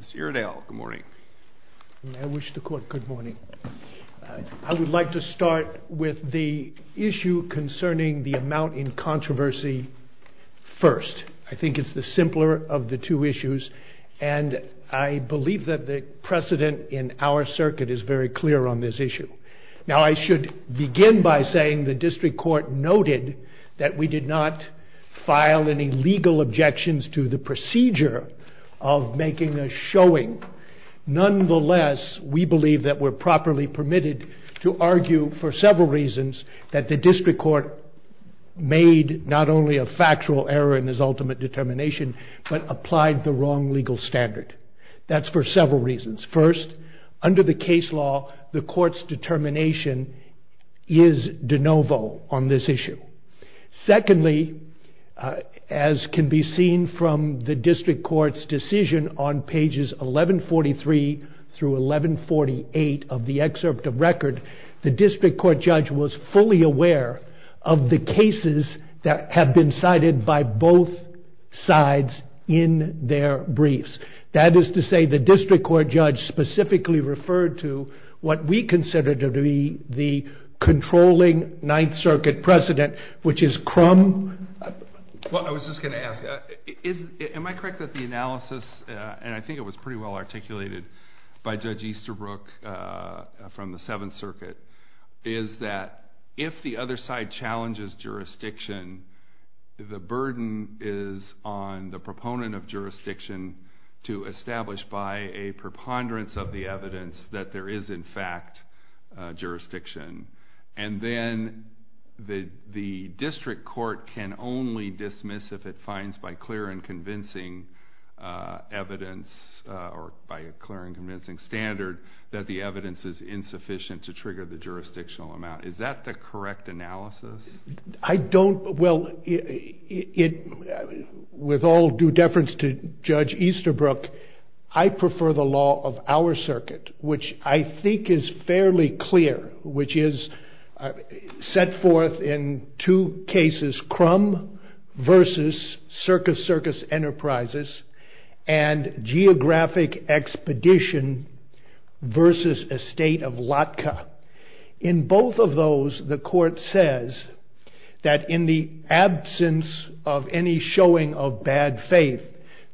Mr. Iredale, good morning. I wish the court good morning. I would like to start with the issue concerning the amount in controversy first. I think it's the simpler of the two issues and I believe that the precedent in our circuit is very clear on this issue. Now I should begin by saying the district court noted that we are making a showing. Nonetheless, we believe that we're properly permitted to argue for several reasons that the district court made not only a factual error in his ultimate determination, but applied the wrong legal standard. That's for several reasons. First, under the case law, the court's determination is de novo on this issue. Secondly, as can be seen from the district court's decision on pages 1143 through 1148 of the excerpt of record, the district court judge was fully aware of the cases that have been cited by both sides in their briefs. That is to say the district court judge specifically referred to what we consider to be the second most important issue of the case, which is Crumb. Judge Easterbrook Well I was just going to ask, am I correct that the analysis, and I think it was pretty well articulated by Judge Easterbrook from the Seventh Circuit, is that if the other side challenges jurisdiction, the burden is on the proponent of jurisdiction to establish by a preponderance of the evidence that there is in fact jurisdiction. And then the district court can only dismiss if it finds by clear and convincing evidence, or by a clear and convincing standard, that the evidence is insufficient to trigger the jurisdictional amount. Is that the correct analysis? Judge Easterbrook I don't, well, with all due deference to Judge Easterbrook, I prefer the law of our circuit, which I think is fairly clear, which is set forth in two cases, Crumb versus Circus Circus Enterprises, and Geographic Expedition versus Estate of Lotka. In both of those, the court says that in the absence of any showing of bad faith,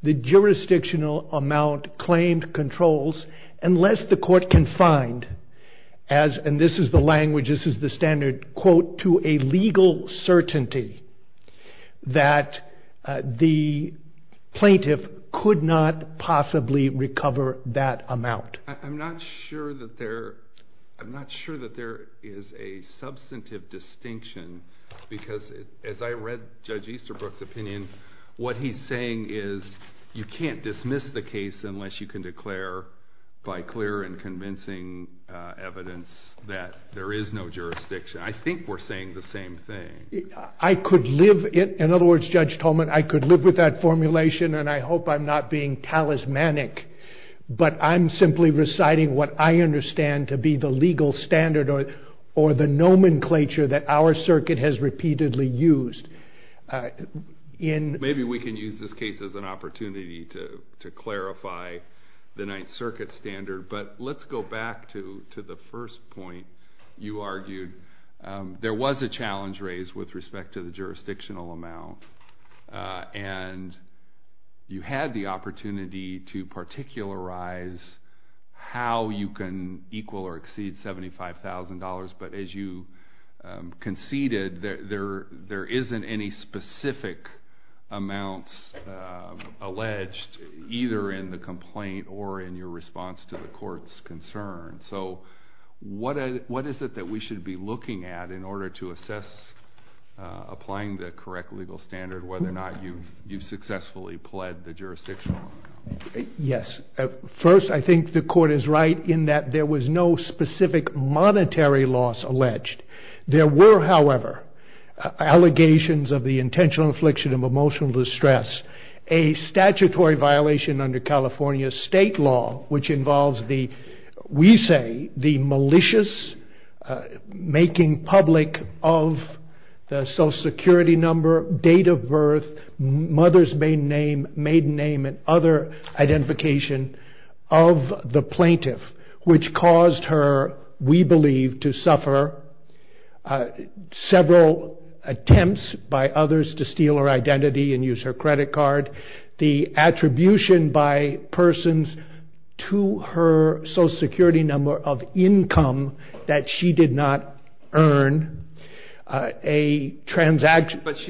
the jurisdictional amount claimed controls, unless the court can find, and this is the language, this is the standard quote, to a legal certainty that the plaintiff could not possibly recover that amount. I'm not sure that there, I'm not sure that there is a substantive distinction, because as I read Judge Easterbrook's opinion, what he's saying is, you can't dismiss the case unless you can declare by clear and convincing evidence that there is no jurisdiction. I think we're saying the same thing. I could live, in other words, Judge Tolman, I could live with that formulation, and I hope I'm not being talismanic, but I'm simply reciting what I understand to be the legal standard, or the nomenclature that our circuit has repeatedly used. Maybe we can use this case as an opportunity to clarify the Ninth Circuit standard, but let's go back to the first point you argued. There was a challenge raised with respect to the jurisdictional amount, and you had the opportunity to particularize how you can equal or exceed $75,000, but as you conceded, there isn't any jurisdiction that would allow you to do that. There weren't any specific amounts alleged, either in the complaint or in your response to the court's concern, so what is it that we should be looking at in order to assess applying the correct legal standard, whether or not you've successfully pled the jurisdiction? Yes. First, I think the court is right in that there was no specific monetary loss alleged. There were, however, allegations of the intentional affliction of emotional distress, a statutory violation under California state law, which involves the, we say, the malicious making public of the social security number, date of birth, mother's maiden name, maiden name, et cetera. Other identification of the plaintiff, which caused her, we believe, to suffer several attempts by others to steal her identity and use her credit card. The attribution by persons to her social security number of income that she did not earn. But she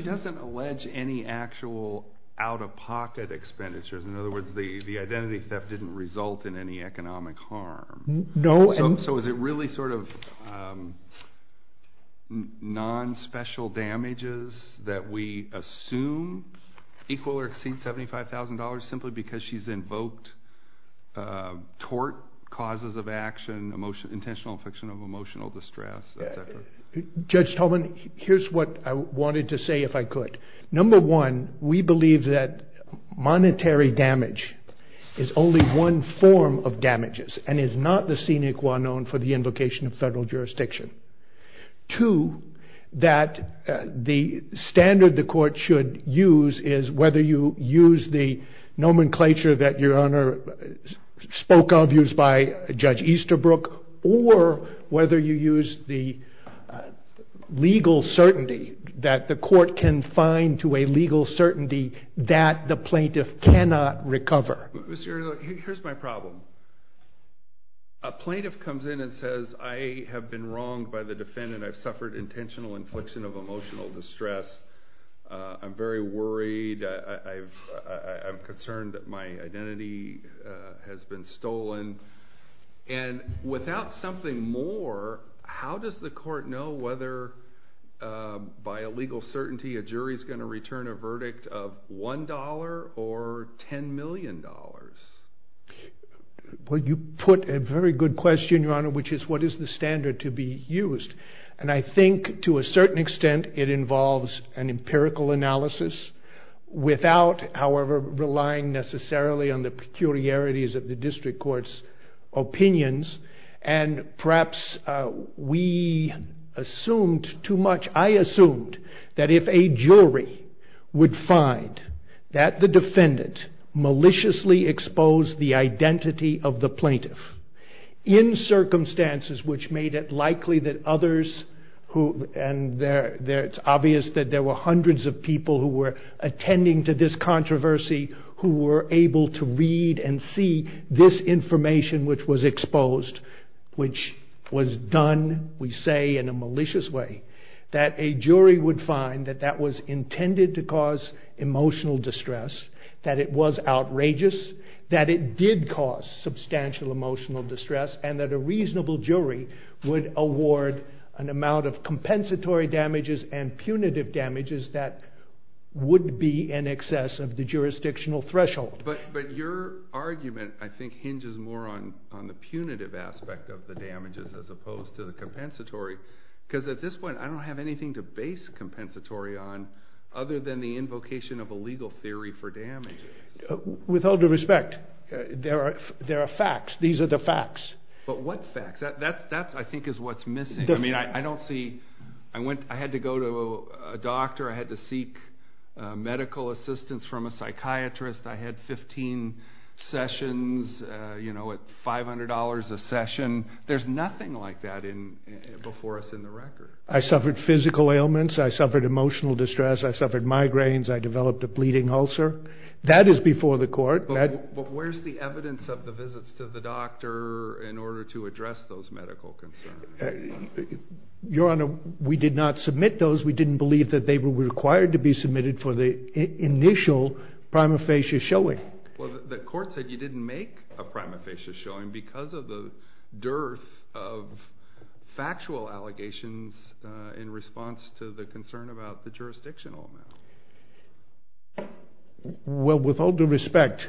doesn't allege any actual out-of-pocket expenditures. In other words, the identity theft didn't result in any economic harm. So is it really sort of non-special damages that we assume equal or exceed $75,000 simply because she's invoked tort causes of action, intentional affliction of emotional distress, et cetera? Judge Tolman, here's what I wanted to say if I could. Number one, we believe that monetary damage is only one form of damages and is not the scenic one known for the invocation of federal jurisdiction. Two, that the standard the court should use is whether you use the nomenclature that Your Honor spoke of, used by Judge Easterbrook, or whether you use the legal certainty that the court can find to a legal certainty that the plaintiff cannot recover. Here's my problem. A plaintiff comes in and says, I have been wronged by the defendant. I've suffered intentional infliction of emotional distress. I'm very worried. I'm concerned that my identity has been stolen. And without something more, how does the court know whether by a legal certainty a jury is going to return a verdict of $1 or $10 million? Well, you put a very good question, Your Honor, which is what is the standard to be used? And I think to a certain extent it involves an empirical analysis without, however, relying necessarily on the peculiarities of the district court's opinions. And perhaps we assumed too much. I assumed that if a jury would find that the defendant maliciously exposed the identity of the plaintiff in circumstances which made it likely that others, and it's obvious that there were hundreds of people who were attending to this controversy, who were able to read and see this information which was exposed, which was done, we say, in a malicious way, that a jury would find that that was intended to cause emotional distress, that it was outrageous, that it did cause substantial emotional distress, and that a reasonable jury would award an amount of compensatory damages and punitive damages that would be in excess of the jurisdictional threshold. But your argument, I think, hinges more on the punitive aspect of the damages as opposed to the compensatory, because at this point I don't have anything to base compensatory on other than the invocation of a legal theory for damage. With all due respect, there are facts. These are the facts. But what facts? That, I think, is what's missing. I mean, I don't see... I had to go to a doctor. I had to seek medical assistance from a psychiatrist. I had 15 sessions, you know, at $500 a session. There's nothing like that before us in the record. I suffered physical ailments. I suffered emotional distress. I suffered migraines. I developed a bleeding ulcer. That is before the court. But where's the evidence of the visits to the doctor in order to address those medical concerns? Your Honor, we did not submit those. We didn't believe that they were required to be submitted for the initial prima facie showing. Well, the court said you didn't make a prima facie showing because of the dearth of factual allegations in response to the concern about the jurisdictional amount. Well, with all due respect,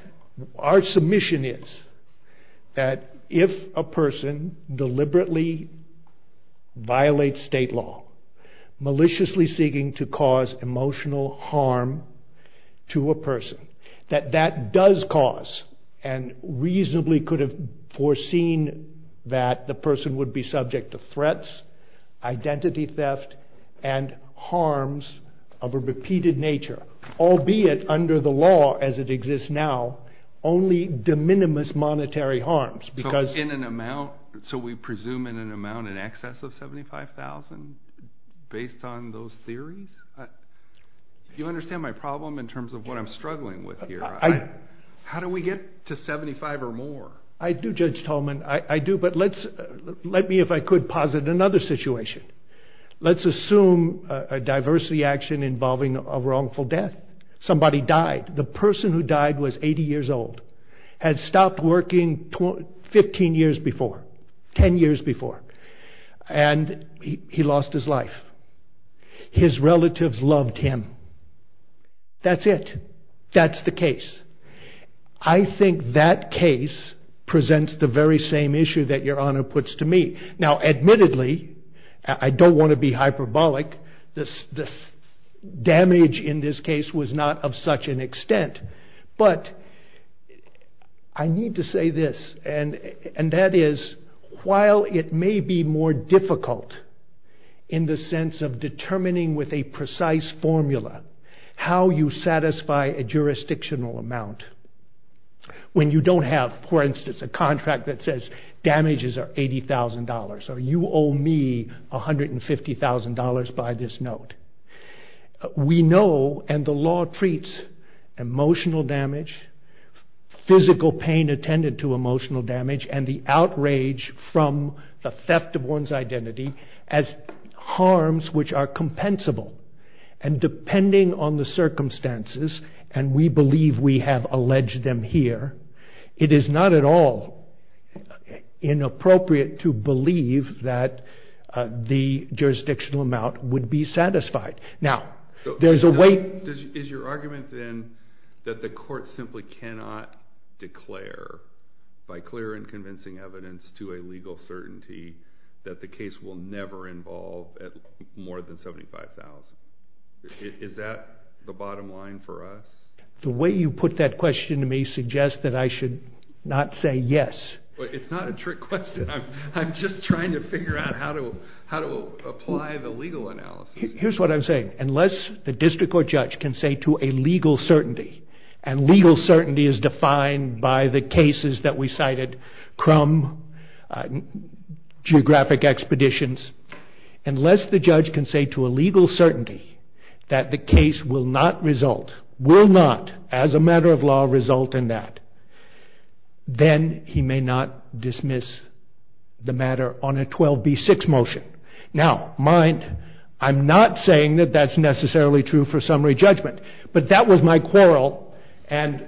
our submission is that if a person deliberately violates state law, maliciously seeking to cause emotional harm to a person, that that does cause and reasonably could have foreseen that the person would be subject to threats, identity theft, and harms of a repeated nature, albeit under the law as it exists now, only de minimis monetary harms. So we presume in an amount in excess of $75,000 based on those theories? If you understand my problem in terms of what I'm struggling with here, how do we get to $75,000 or more? I do, Judge Tolman. I do. But let me, if I could, posit another situation. Let's assume a diversity action involving a wrongful death. Somebody died. The person who died was 80 years old, had stopped working 15 years before, 10 years before, and he lost his life. His relatives loved him. That's it. That's the case. I think that case presents the very same issue that Your Honor puts to me. Now, admittedly, I don't want to be hyperbolic. This damage in this case was not of such an extent. But I need to say this, and that is, while it may be more difficult in the sense of determining with a precise formula how you satisfy a jurisdictional amount, when you don't have, for instance, a contract that says damages are $80,000, or you owe me $150,000 by this note, we know, and the law treats emotional damage, physical pain attended to emotional damage, and the outrage from the theft of one's identity as harms which are compensable. And depending on the circumstances, and we believe we have alleged them here, it is not at all inappropriate to believe that the jurisdictional amount would be satisfied. Is your argument then that the court simply cannot declare by clear and convincing evidence to a legal certainty that the case will never involve more than $75,000? Is that the bottom line for us? The way you put that question to me suggests that I should not say yes. It's not a trick question. I'm just trying to figure out how to apply the legal analysis. Here's what I'm saying. Unless the district court judge can say to a legal certainty, and legal certainty is defined by the cases that we cited, Crum, geographic expeditions, unless the judge can say to a legal certainty that the case will not result, will not, as a matter of law, result in that, then he may not dismiss the matter on a 12B6 motion. Now, mind, I'm not saying that that's necessarily true for summary judgment. But that was my quarrel, and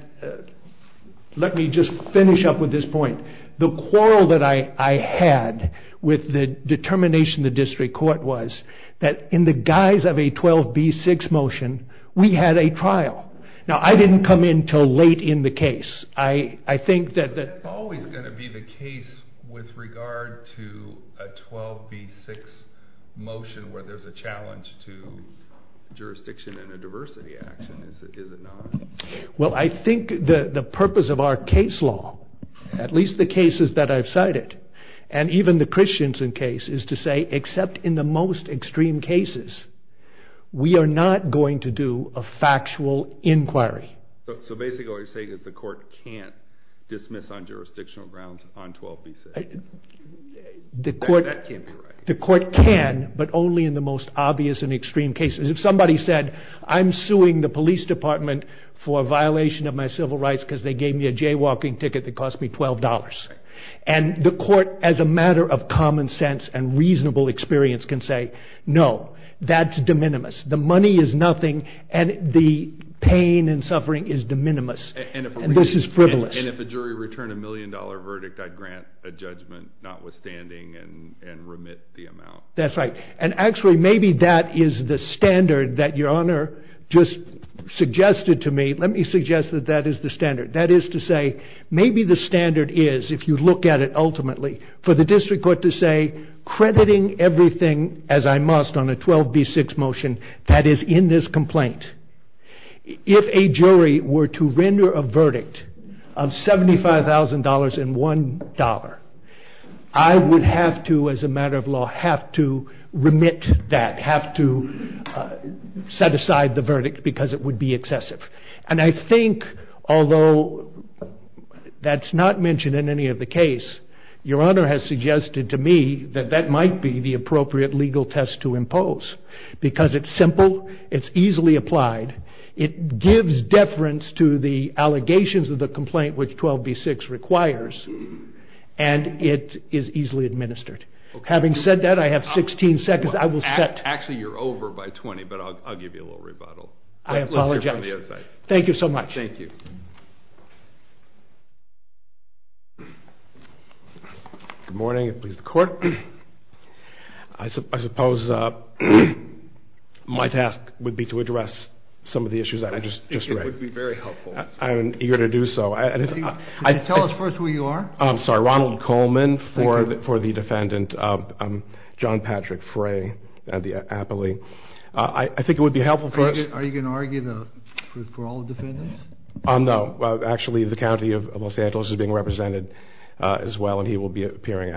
let me just finish up with this point. The quarrel that I had with the determination of the district court was that in the guise of a 12B6 motion, we had a trial. Now, I didn't come in until late in the case. I think that... That's always going to be the case with regard to a 12B6 motion where there's a challenge to jurisdiction and a diversity action, is it not? Well, I think the purpose of our case law, at least the cases that I've cited, and even the Christianson case, is to say except in the most extreme cases, we are not going to do a factual inquiry. So basically what you're saying is the court can't dismiss on jurisdictional grounds on 12B6? The court can, but only in the most obvious and extreme cases. If somebody said, I'm suing the police department for a violation of my civil rights because they gave me a jaywalking ticket that cost me $12. And the court, as a matter of common sense and reasonable experience, can say, no, that's de minimis. The money is nothing, and the pain and suffering is de minimis. And this is frivolous. And if a jury returned a million dollar verdict, I'd grant a judgment notwithstanding and remit the amount. That's right. And actually, maybe that is the standard that Your Honor just suggested to me. Let me suggest that that is the standard. That is to say, maybe the standard is, if you look at it ultimately, for the district court to say, I'm crediting everything as I must on a 12B6 motion that is in this complaint. If a jury were to render a verdict of $75,000 and $1, I would have to, as a matter of law, have to remit that, have to set aside the verdict because it would be excessive. And I think, although that's not mentioned in any of the case, Your Honor has suggested to me that that might be the appropriate legal test to impose because it's simple, it's easily applied, it gives deference to the allegations of the complaint, which 12B6 requires, and it is easily administered. Okay. Having said that, I have 16 seconds. Actually, you're over by 20, but I'll give you a little rebuttal. I apologize. You're on the other side. Thank you so much. Thank you. Good morning. It pleases the Court. I suppose my task would be to address some of the issues that I just raised. It would be very helpful. I'm eager to do so. Could you tell us first who you are? I'm sorry. Ronald Coleman for the defendant, John Patrick Frey at the Appley. I think it would be helpful for us. Are you going to argue for all the defendants? No. Actually, the county of Los Angeles is being represented as well, and he will be appearing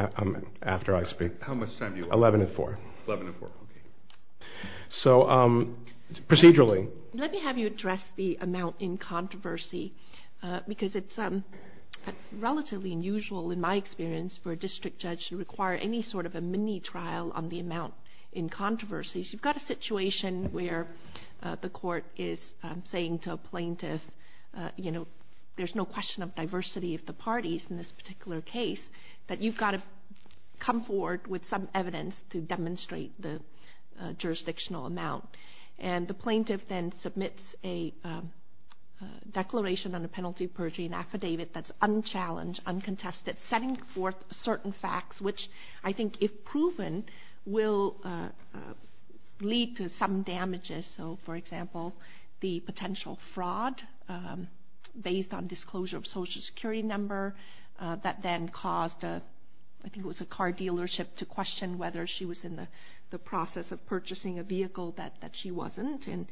after I speak. How much time do you have? Eleven and four. Eleven and four. Okay. Procedurally. Let me have you address the amount in controversy because it's relatively unusual, in my experience, for a district judge to require any sort of a mini-trial on the amount in controversy. You've got a situation where the court is saying to a plaintiff, you know, there's no question of diversity of the parties in this particular case, that you've got to come forward with some evidence to demonstrate the jurisdictional amount. And the plaintiff then submits a declaration on a penalty of perjury, an affidavit, that's unchallenged, uncontested, setting forth certain facts, which I think, if proven, will lead to some damages. So, for example, the potential fraud based on disclosure of a Social Security number that then caused, I think it was a car dealership, to question whether she was in the process of purchasing a vehicle that she wasn't, and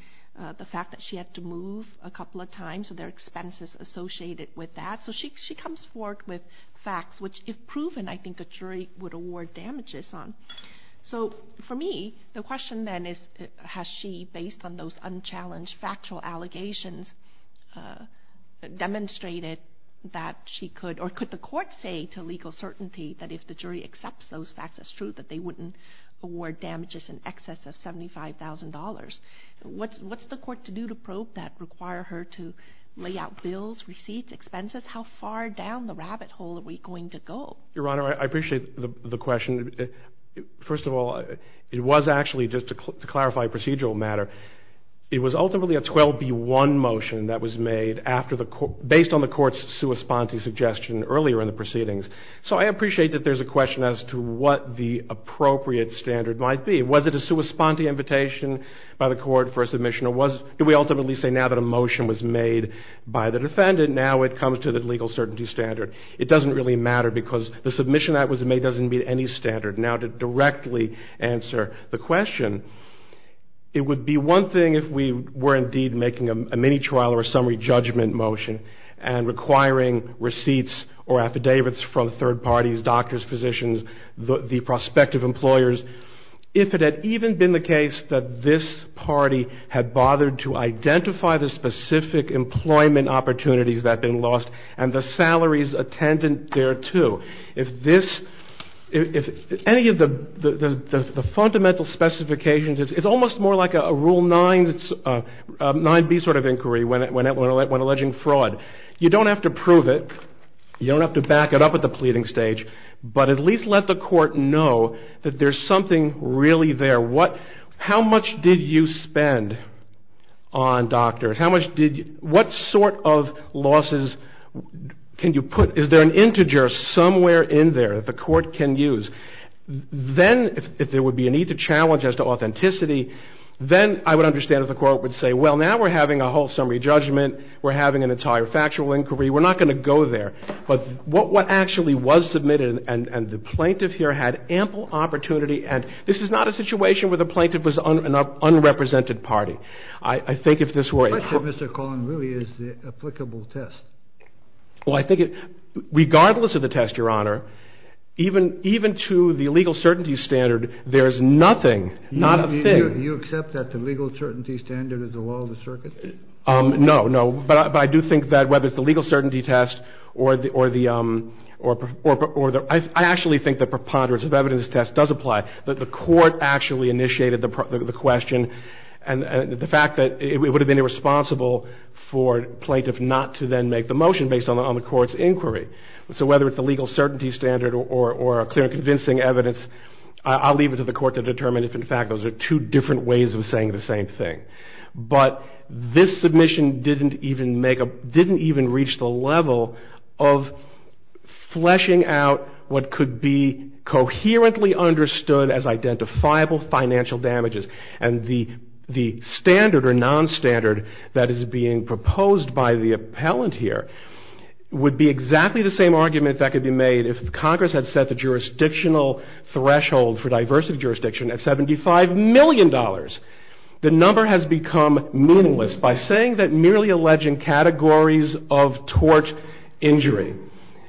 the fact that she had to move a couple of times, so there are expenses associated with that. So she comes forward with facts, which, if proven, I think a jury would award damages on. So, for me, the question then is, has she, based on those unchallenged factual allegations, demonstrated that she could, or could the court say to legal certainty that if the jury accepts those facts as true, that they wouldn't award damages in excess of $75,000? What's the court to do to probe that, require her to lay out bills, receipts, expenses? How far down the rabbit hole are we going to go? Your Honor, I appreciate the question. First of all, it was actually, just to clarify a procedural matter, it was ultimately a 12B1 motion that was made based on the court's sua sponte suggestion earlier in the proceedings. So I appreciate that there's a question as to what the appropriate standard might be. Was it a sua sponte invitation by the court for submission, or do we ultimately say now that a motion was made by the defendant, now it comes to the legal certainty standard? It doesn't really matter because the submission that was made doesn't meet any standard. Now, to directly answer the question, it would be one thing if we were indeed making a mini trial or a summary judgment motion and requiring receipts or affidavits from third parties, doctors, physicians, the prospective employers. If it had even been the case that this party had bothered to identify the specific employment opportunities that had been lost and the salaries attendant thereto, if any of the fundamental specifications, it's almost more like a Rule 9B sort of inquiry when alleging fraud. You don't have to prove it, you don't have to back it up at the pleading stage, but at least let the court know that there's something really there. How much did you spend on doctors? What sort of losses can you put? Is there an integer somewhere in there that the court can use? Then, if there would be a need to challenge as to authenticity, then I would understand if the court would say, well, now we're having a whole summary judgment, we're having an entire factual inquiry, we're not going to go there. But what actually was submitted, and the plaintiff here had ample opportunity, and this is not a situation where the plaintiff was an unrepresented party. I think if this were a... The question, Mr. Collin, really is the applicable test. Well, I think regardless of the test, Your Honor, even to the legal certainty standard, there is nothing, not a thing... You accept that the legal certainty standard is the law of the circuit? No, no, but I do think that whether it's the legal certainty test or the... I actually think the preponderance of evidence test does apply. The court actually initiated the question, and the fact that it would have been irresponsible for plaintiff not to then make the motion based on the court's inquiry. So whether it's the legal certainty standard or a clear and convincing evidence, I'll leave it to the court to determine if, in fact, those are two different ways of saying the same thing. But this submission didn't even make a... didn't even reach the level of fleshing out what could be coherently understood as identifiable financial damages. And the standard or non-standard that is being proposed by the appellant here would be exactly the same argument that could be made if Congress had set the jurisdictional threshold for diversive jurisdiction at $75 million. The number has become meaningless. By saying that merely alleging categories of tort injury,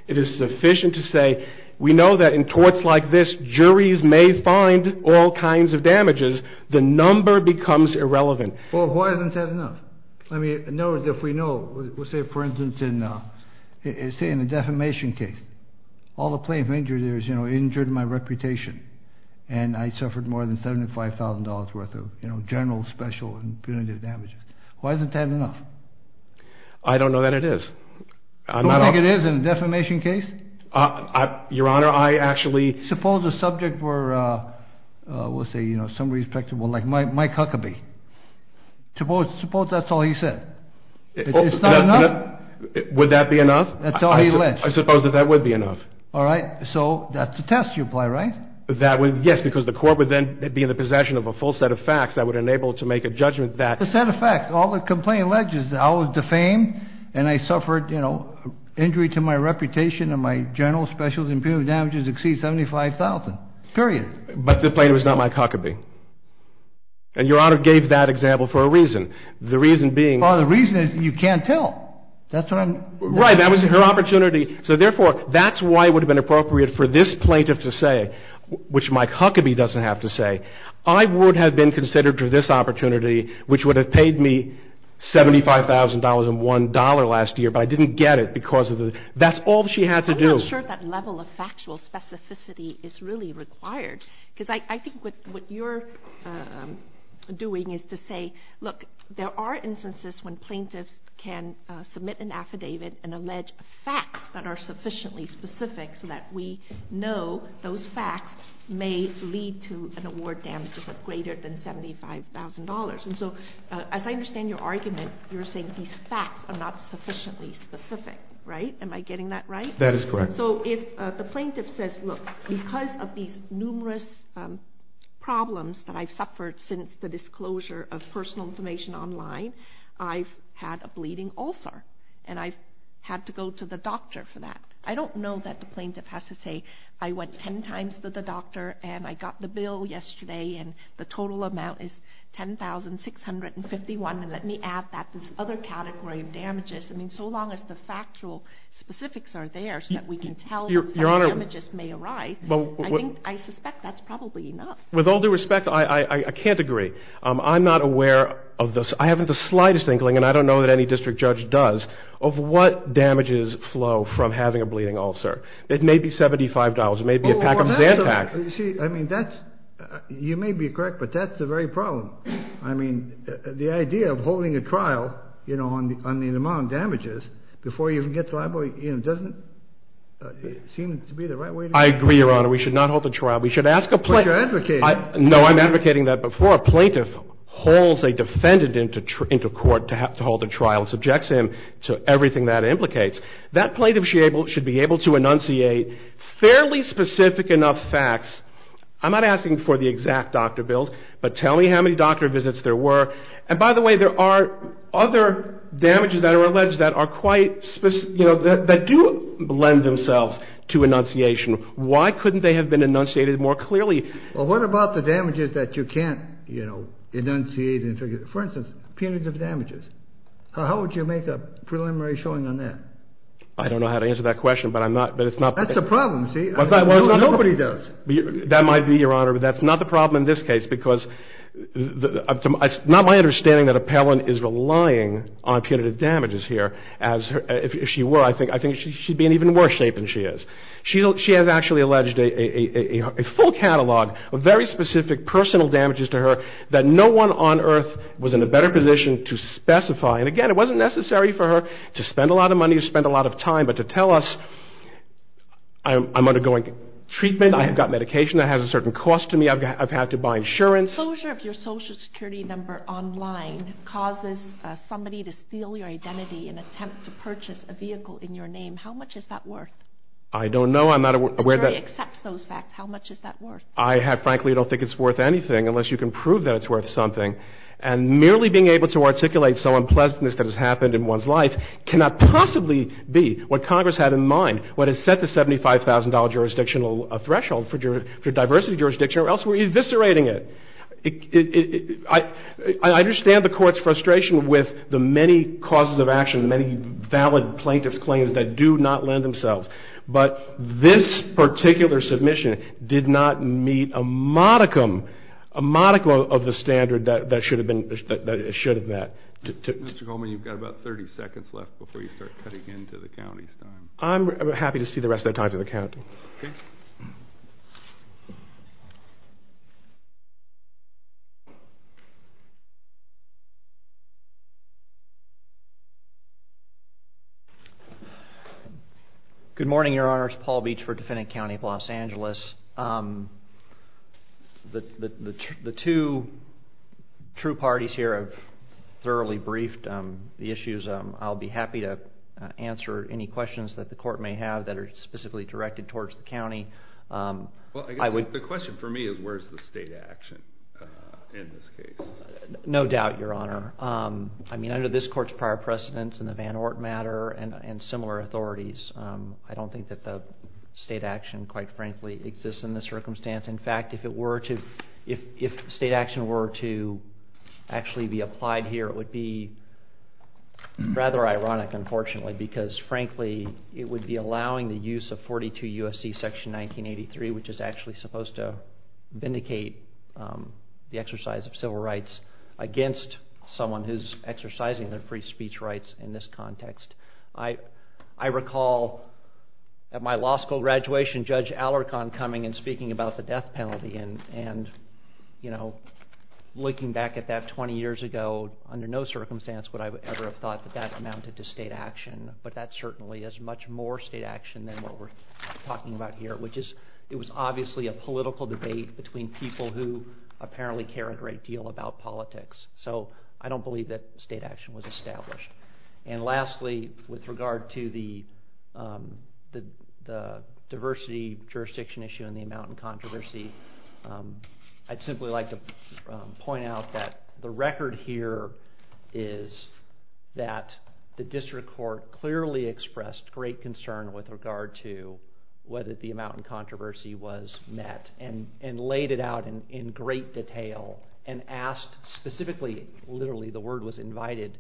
it is sufficient to say we know that in torts like this, juries may find all kinds of damages. The number becomes irrelevant. Well, why isn't that enough? I mean, in other words, if we know... Let's say, for instance, in a defamation case, all the plaintiff's injuries, you know, injured my reputation, and I suffered more than $75,000 worth of, you know, general, special, and punitive damages. Why isn't that enough? I don't know that it is. You don't think it is in a defamation case? Your Honor, I actually... Suppose a subject were, we'll say, you know, some respectable... like Mike Huckabee. Suppose that's all he said. It's not enough? Would that be enough? That's all he alleged. I suppose that that would be enough. All right. So that's the test you apply, right? Yes, because the court would then be in the possession of a full set of facts that would enable it to make a judgment that... A set of facts. All the complaint alleges that I was defamed, and I suffered, you know, injury to my reputation, and my general, special, and punitive damages exceed $75,000. Period. But the plaintiff is not Mike Huckabee. And Your Honor gave that example for a reason. The reason being... Well, the reason is you can't tell. That's what I'm... Right. That was her opportunity. So, therefore, that's why it would have been appropriate for this plaintiff to say, which Mike Huckabee doesn't have to say, I would have been considered for this opportunity, which would have paid me $75,001 last year, but I didn't get it because of the... That's all she had to do. I'm not sure if that level of factual specificity is really required. Because I think what you're doing is to say, look, there are instances when plaintiffs can submit an affidavit and allege facts that are sufficiently specific so that we know those facts may lead to an award damages of greater than $75,000. And so, as I understand your argument, you're saying these facts are not sufficiently specific, right? Am I getting that right? That is correct. So if the plaintiff says, look, because of these numerous problems that I've suffered since the disclosure of personal information online, I've had a bleeding ulcer, and I've had to go to the doctor for that. I don't know that the plaintiff has to say, I went 10 times to the doctor and I got the bill yesterday and the total amount is $10,651, and let me add that to this other category of damages. I mean, so long as the factual specifics are there so that we can tell that damages may arise, I suspect that's probably enough. With all due respect, I can't agree. I'm not aware of this. I haven't the slightest inkling, and I don't know that any district judge does, of what damages flow from having a bleeding ulcer. It may be $75. It may be a pack of Zantac. See, I mean, you may be correct, but that's the very problem. I mean, the idea of holding a trial on the amount of damages before you even get to the libel, it doesn't seem to be the right way to do it. I agree, Your Honor. We should not hold the trial. But you're advocating. No, I'm advocating that before a plaintiff holds a defendant into court to hold a trial and subjects him to everything that implicates, that plaintiff should be able to enunciate fairly specific enough facts. I'm not asking for the exact doctor bills, but tell me how many doctor visits there were. And by the way, there are other damages that are alleged that are quite specific, you know, that do lend themselves to enunciation. Why couldn't they have been enunciated more clearly? Well, what about the damages that you can't, you know, enunciate and figure out? For instance, punitive damages. How would you make a preliminary showing on that? I don't know how to answer that question, but I'm not. That's the problem, see? Nobody does. That might be, Your Honor. But that's not the problem in this case, because it's not my understanding that Appellant is relying on punitive damages here. If she were, I think she'd be in even worse shape than she is. She has actually alleged a full catalog of very specific personal damages to her that no one on earth was in a better position to specify. And again, it wasn't necessary for her to spend a lot of money or spend a lot of time, but to tell us, I'm undergoing treatment. I've got medication that has a certain cost to me. I've had to buy insurance. Closure of your Social Security number online causes somebody to steal your identity in an attempt to purchase a vehicle in your name. How much is that worth? I don't know. I'm not aware that... The jury accepts those facts. How much is that worth? I frankly don't think it's worth anything unless you can prove that it's worth something. And merely being able to articulate so unpleasantness that has happened in one's life cannot possibly be what Congress had in mind, what has set the $75,000 jurisdictional threshold for diversity jurisdiction, or else we're eviscerating it. I understand the Court's frustration with the many causes of action, many valid plaintiff's claims that do not lend themselves, but this particular submission did not meet a modicum, a modicum of the standard that it should have met. Mr. Coleman, you've got about 30 seconds left before you start cutting into the county's time. I'm happy to see the rest of the time for the county. Okay. Good morning, Your Honors. Paul Beach for Defendant County of Los Angeles. The two true parties here have thoroughly briefed the issues. I'll be happy to answer any questions that the Court may have that are specifically directed towards the county. Well, I guess the question for me is, where's the state action in this case? No doubt, Your Honor. I mean, under this Court's prior precedence in the Van Ort matter and similar authorities, I don't think that the state action, quite frankly, exists in this circumstance. In fact, if state action were to actually be applied here, it would be rather ironic, unfortunately, because, frankly, it would be allowing the use of 42 U.S.C. Section 1983, which is actually supposed to vindicate the exercise of civil rights against someone who's exercising their free speech rights in this context. I recall at my law school graduation, Judge Alarcon coming and speaking about the death penalty and, you know, looking back at that 20 years ago, under no circumstance would I ever have thought that that amounted to state action, but that certainly is much more state action than what we're talking about here, which is it was obviously a political debate between people who apparently care a great deal about politics, so I don't believe that state action was established. And lastly, with regard to the diversity jurisdiction issue and the amount in controversy, I'd simply like to point out that the record here is that the district court clearly expressed great concern with regard to whether the amount in controversy was met and laid it out in great detail and asked specifically, literally, the word was invited,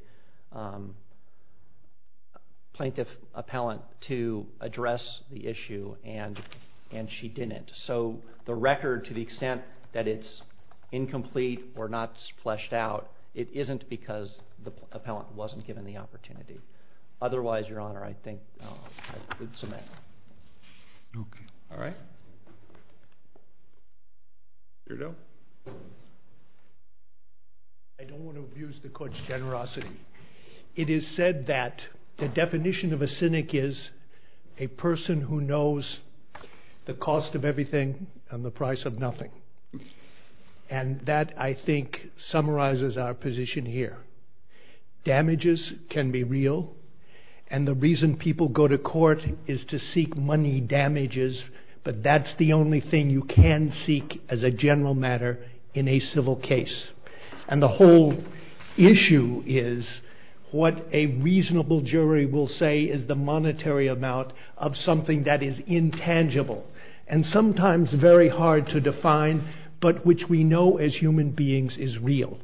plaintiff, appellant, to address the issue, and she didn't. So the record, to the extent that it's incomplete or not fleshed out, it isn't because the appellant wasn't given the opportunity. Otherwise, Your Honor, I think I could submit. All right. I don't want to abuse the court's generosity. It is said that the definition of a cynic is a person who knows the cost of everything and the price of nothing. And that, I think, summarizes our position here. The court is to seek money damages, but that's the only thing you can seek as a general matter in a civil case. And the whole issue is what a reasonable jury will say is the monetary amount of something that is intangible and sometimes very hard to define, but which we know as human beings is real.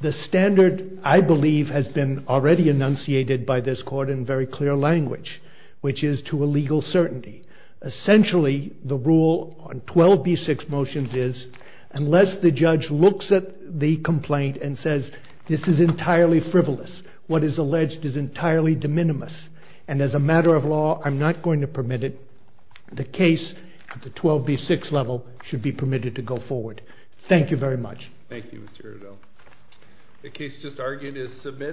The standard, I believe, has been already enunciated by this court in very clear language, which is to a legal certainty. Essentially, the rule on 12b-6 motions is unless the judge looks at the complaint and says this is entirely frivolous, what is alleged is entirely de minimis, and as a matter of law, I'm not going to permit it, the case at the 12b-6 level should be permitted to go forward. Thank you very much. Thank you, Mr. Riddell. The case just argued is submitted.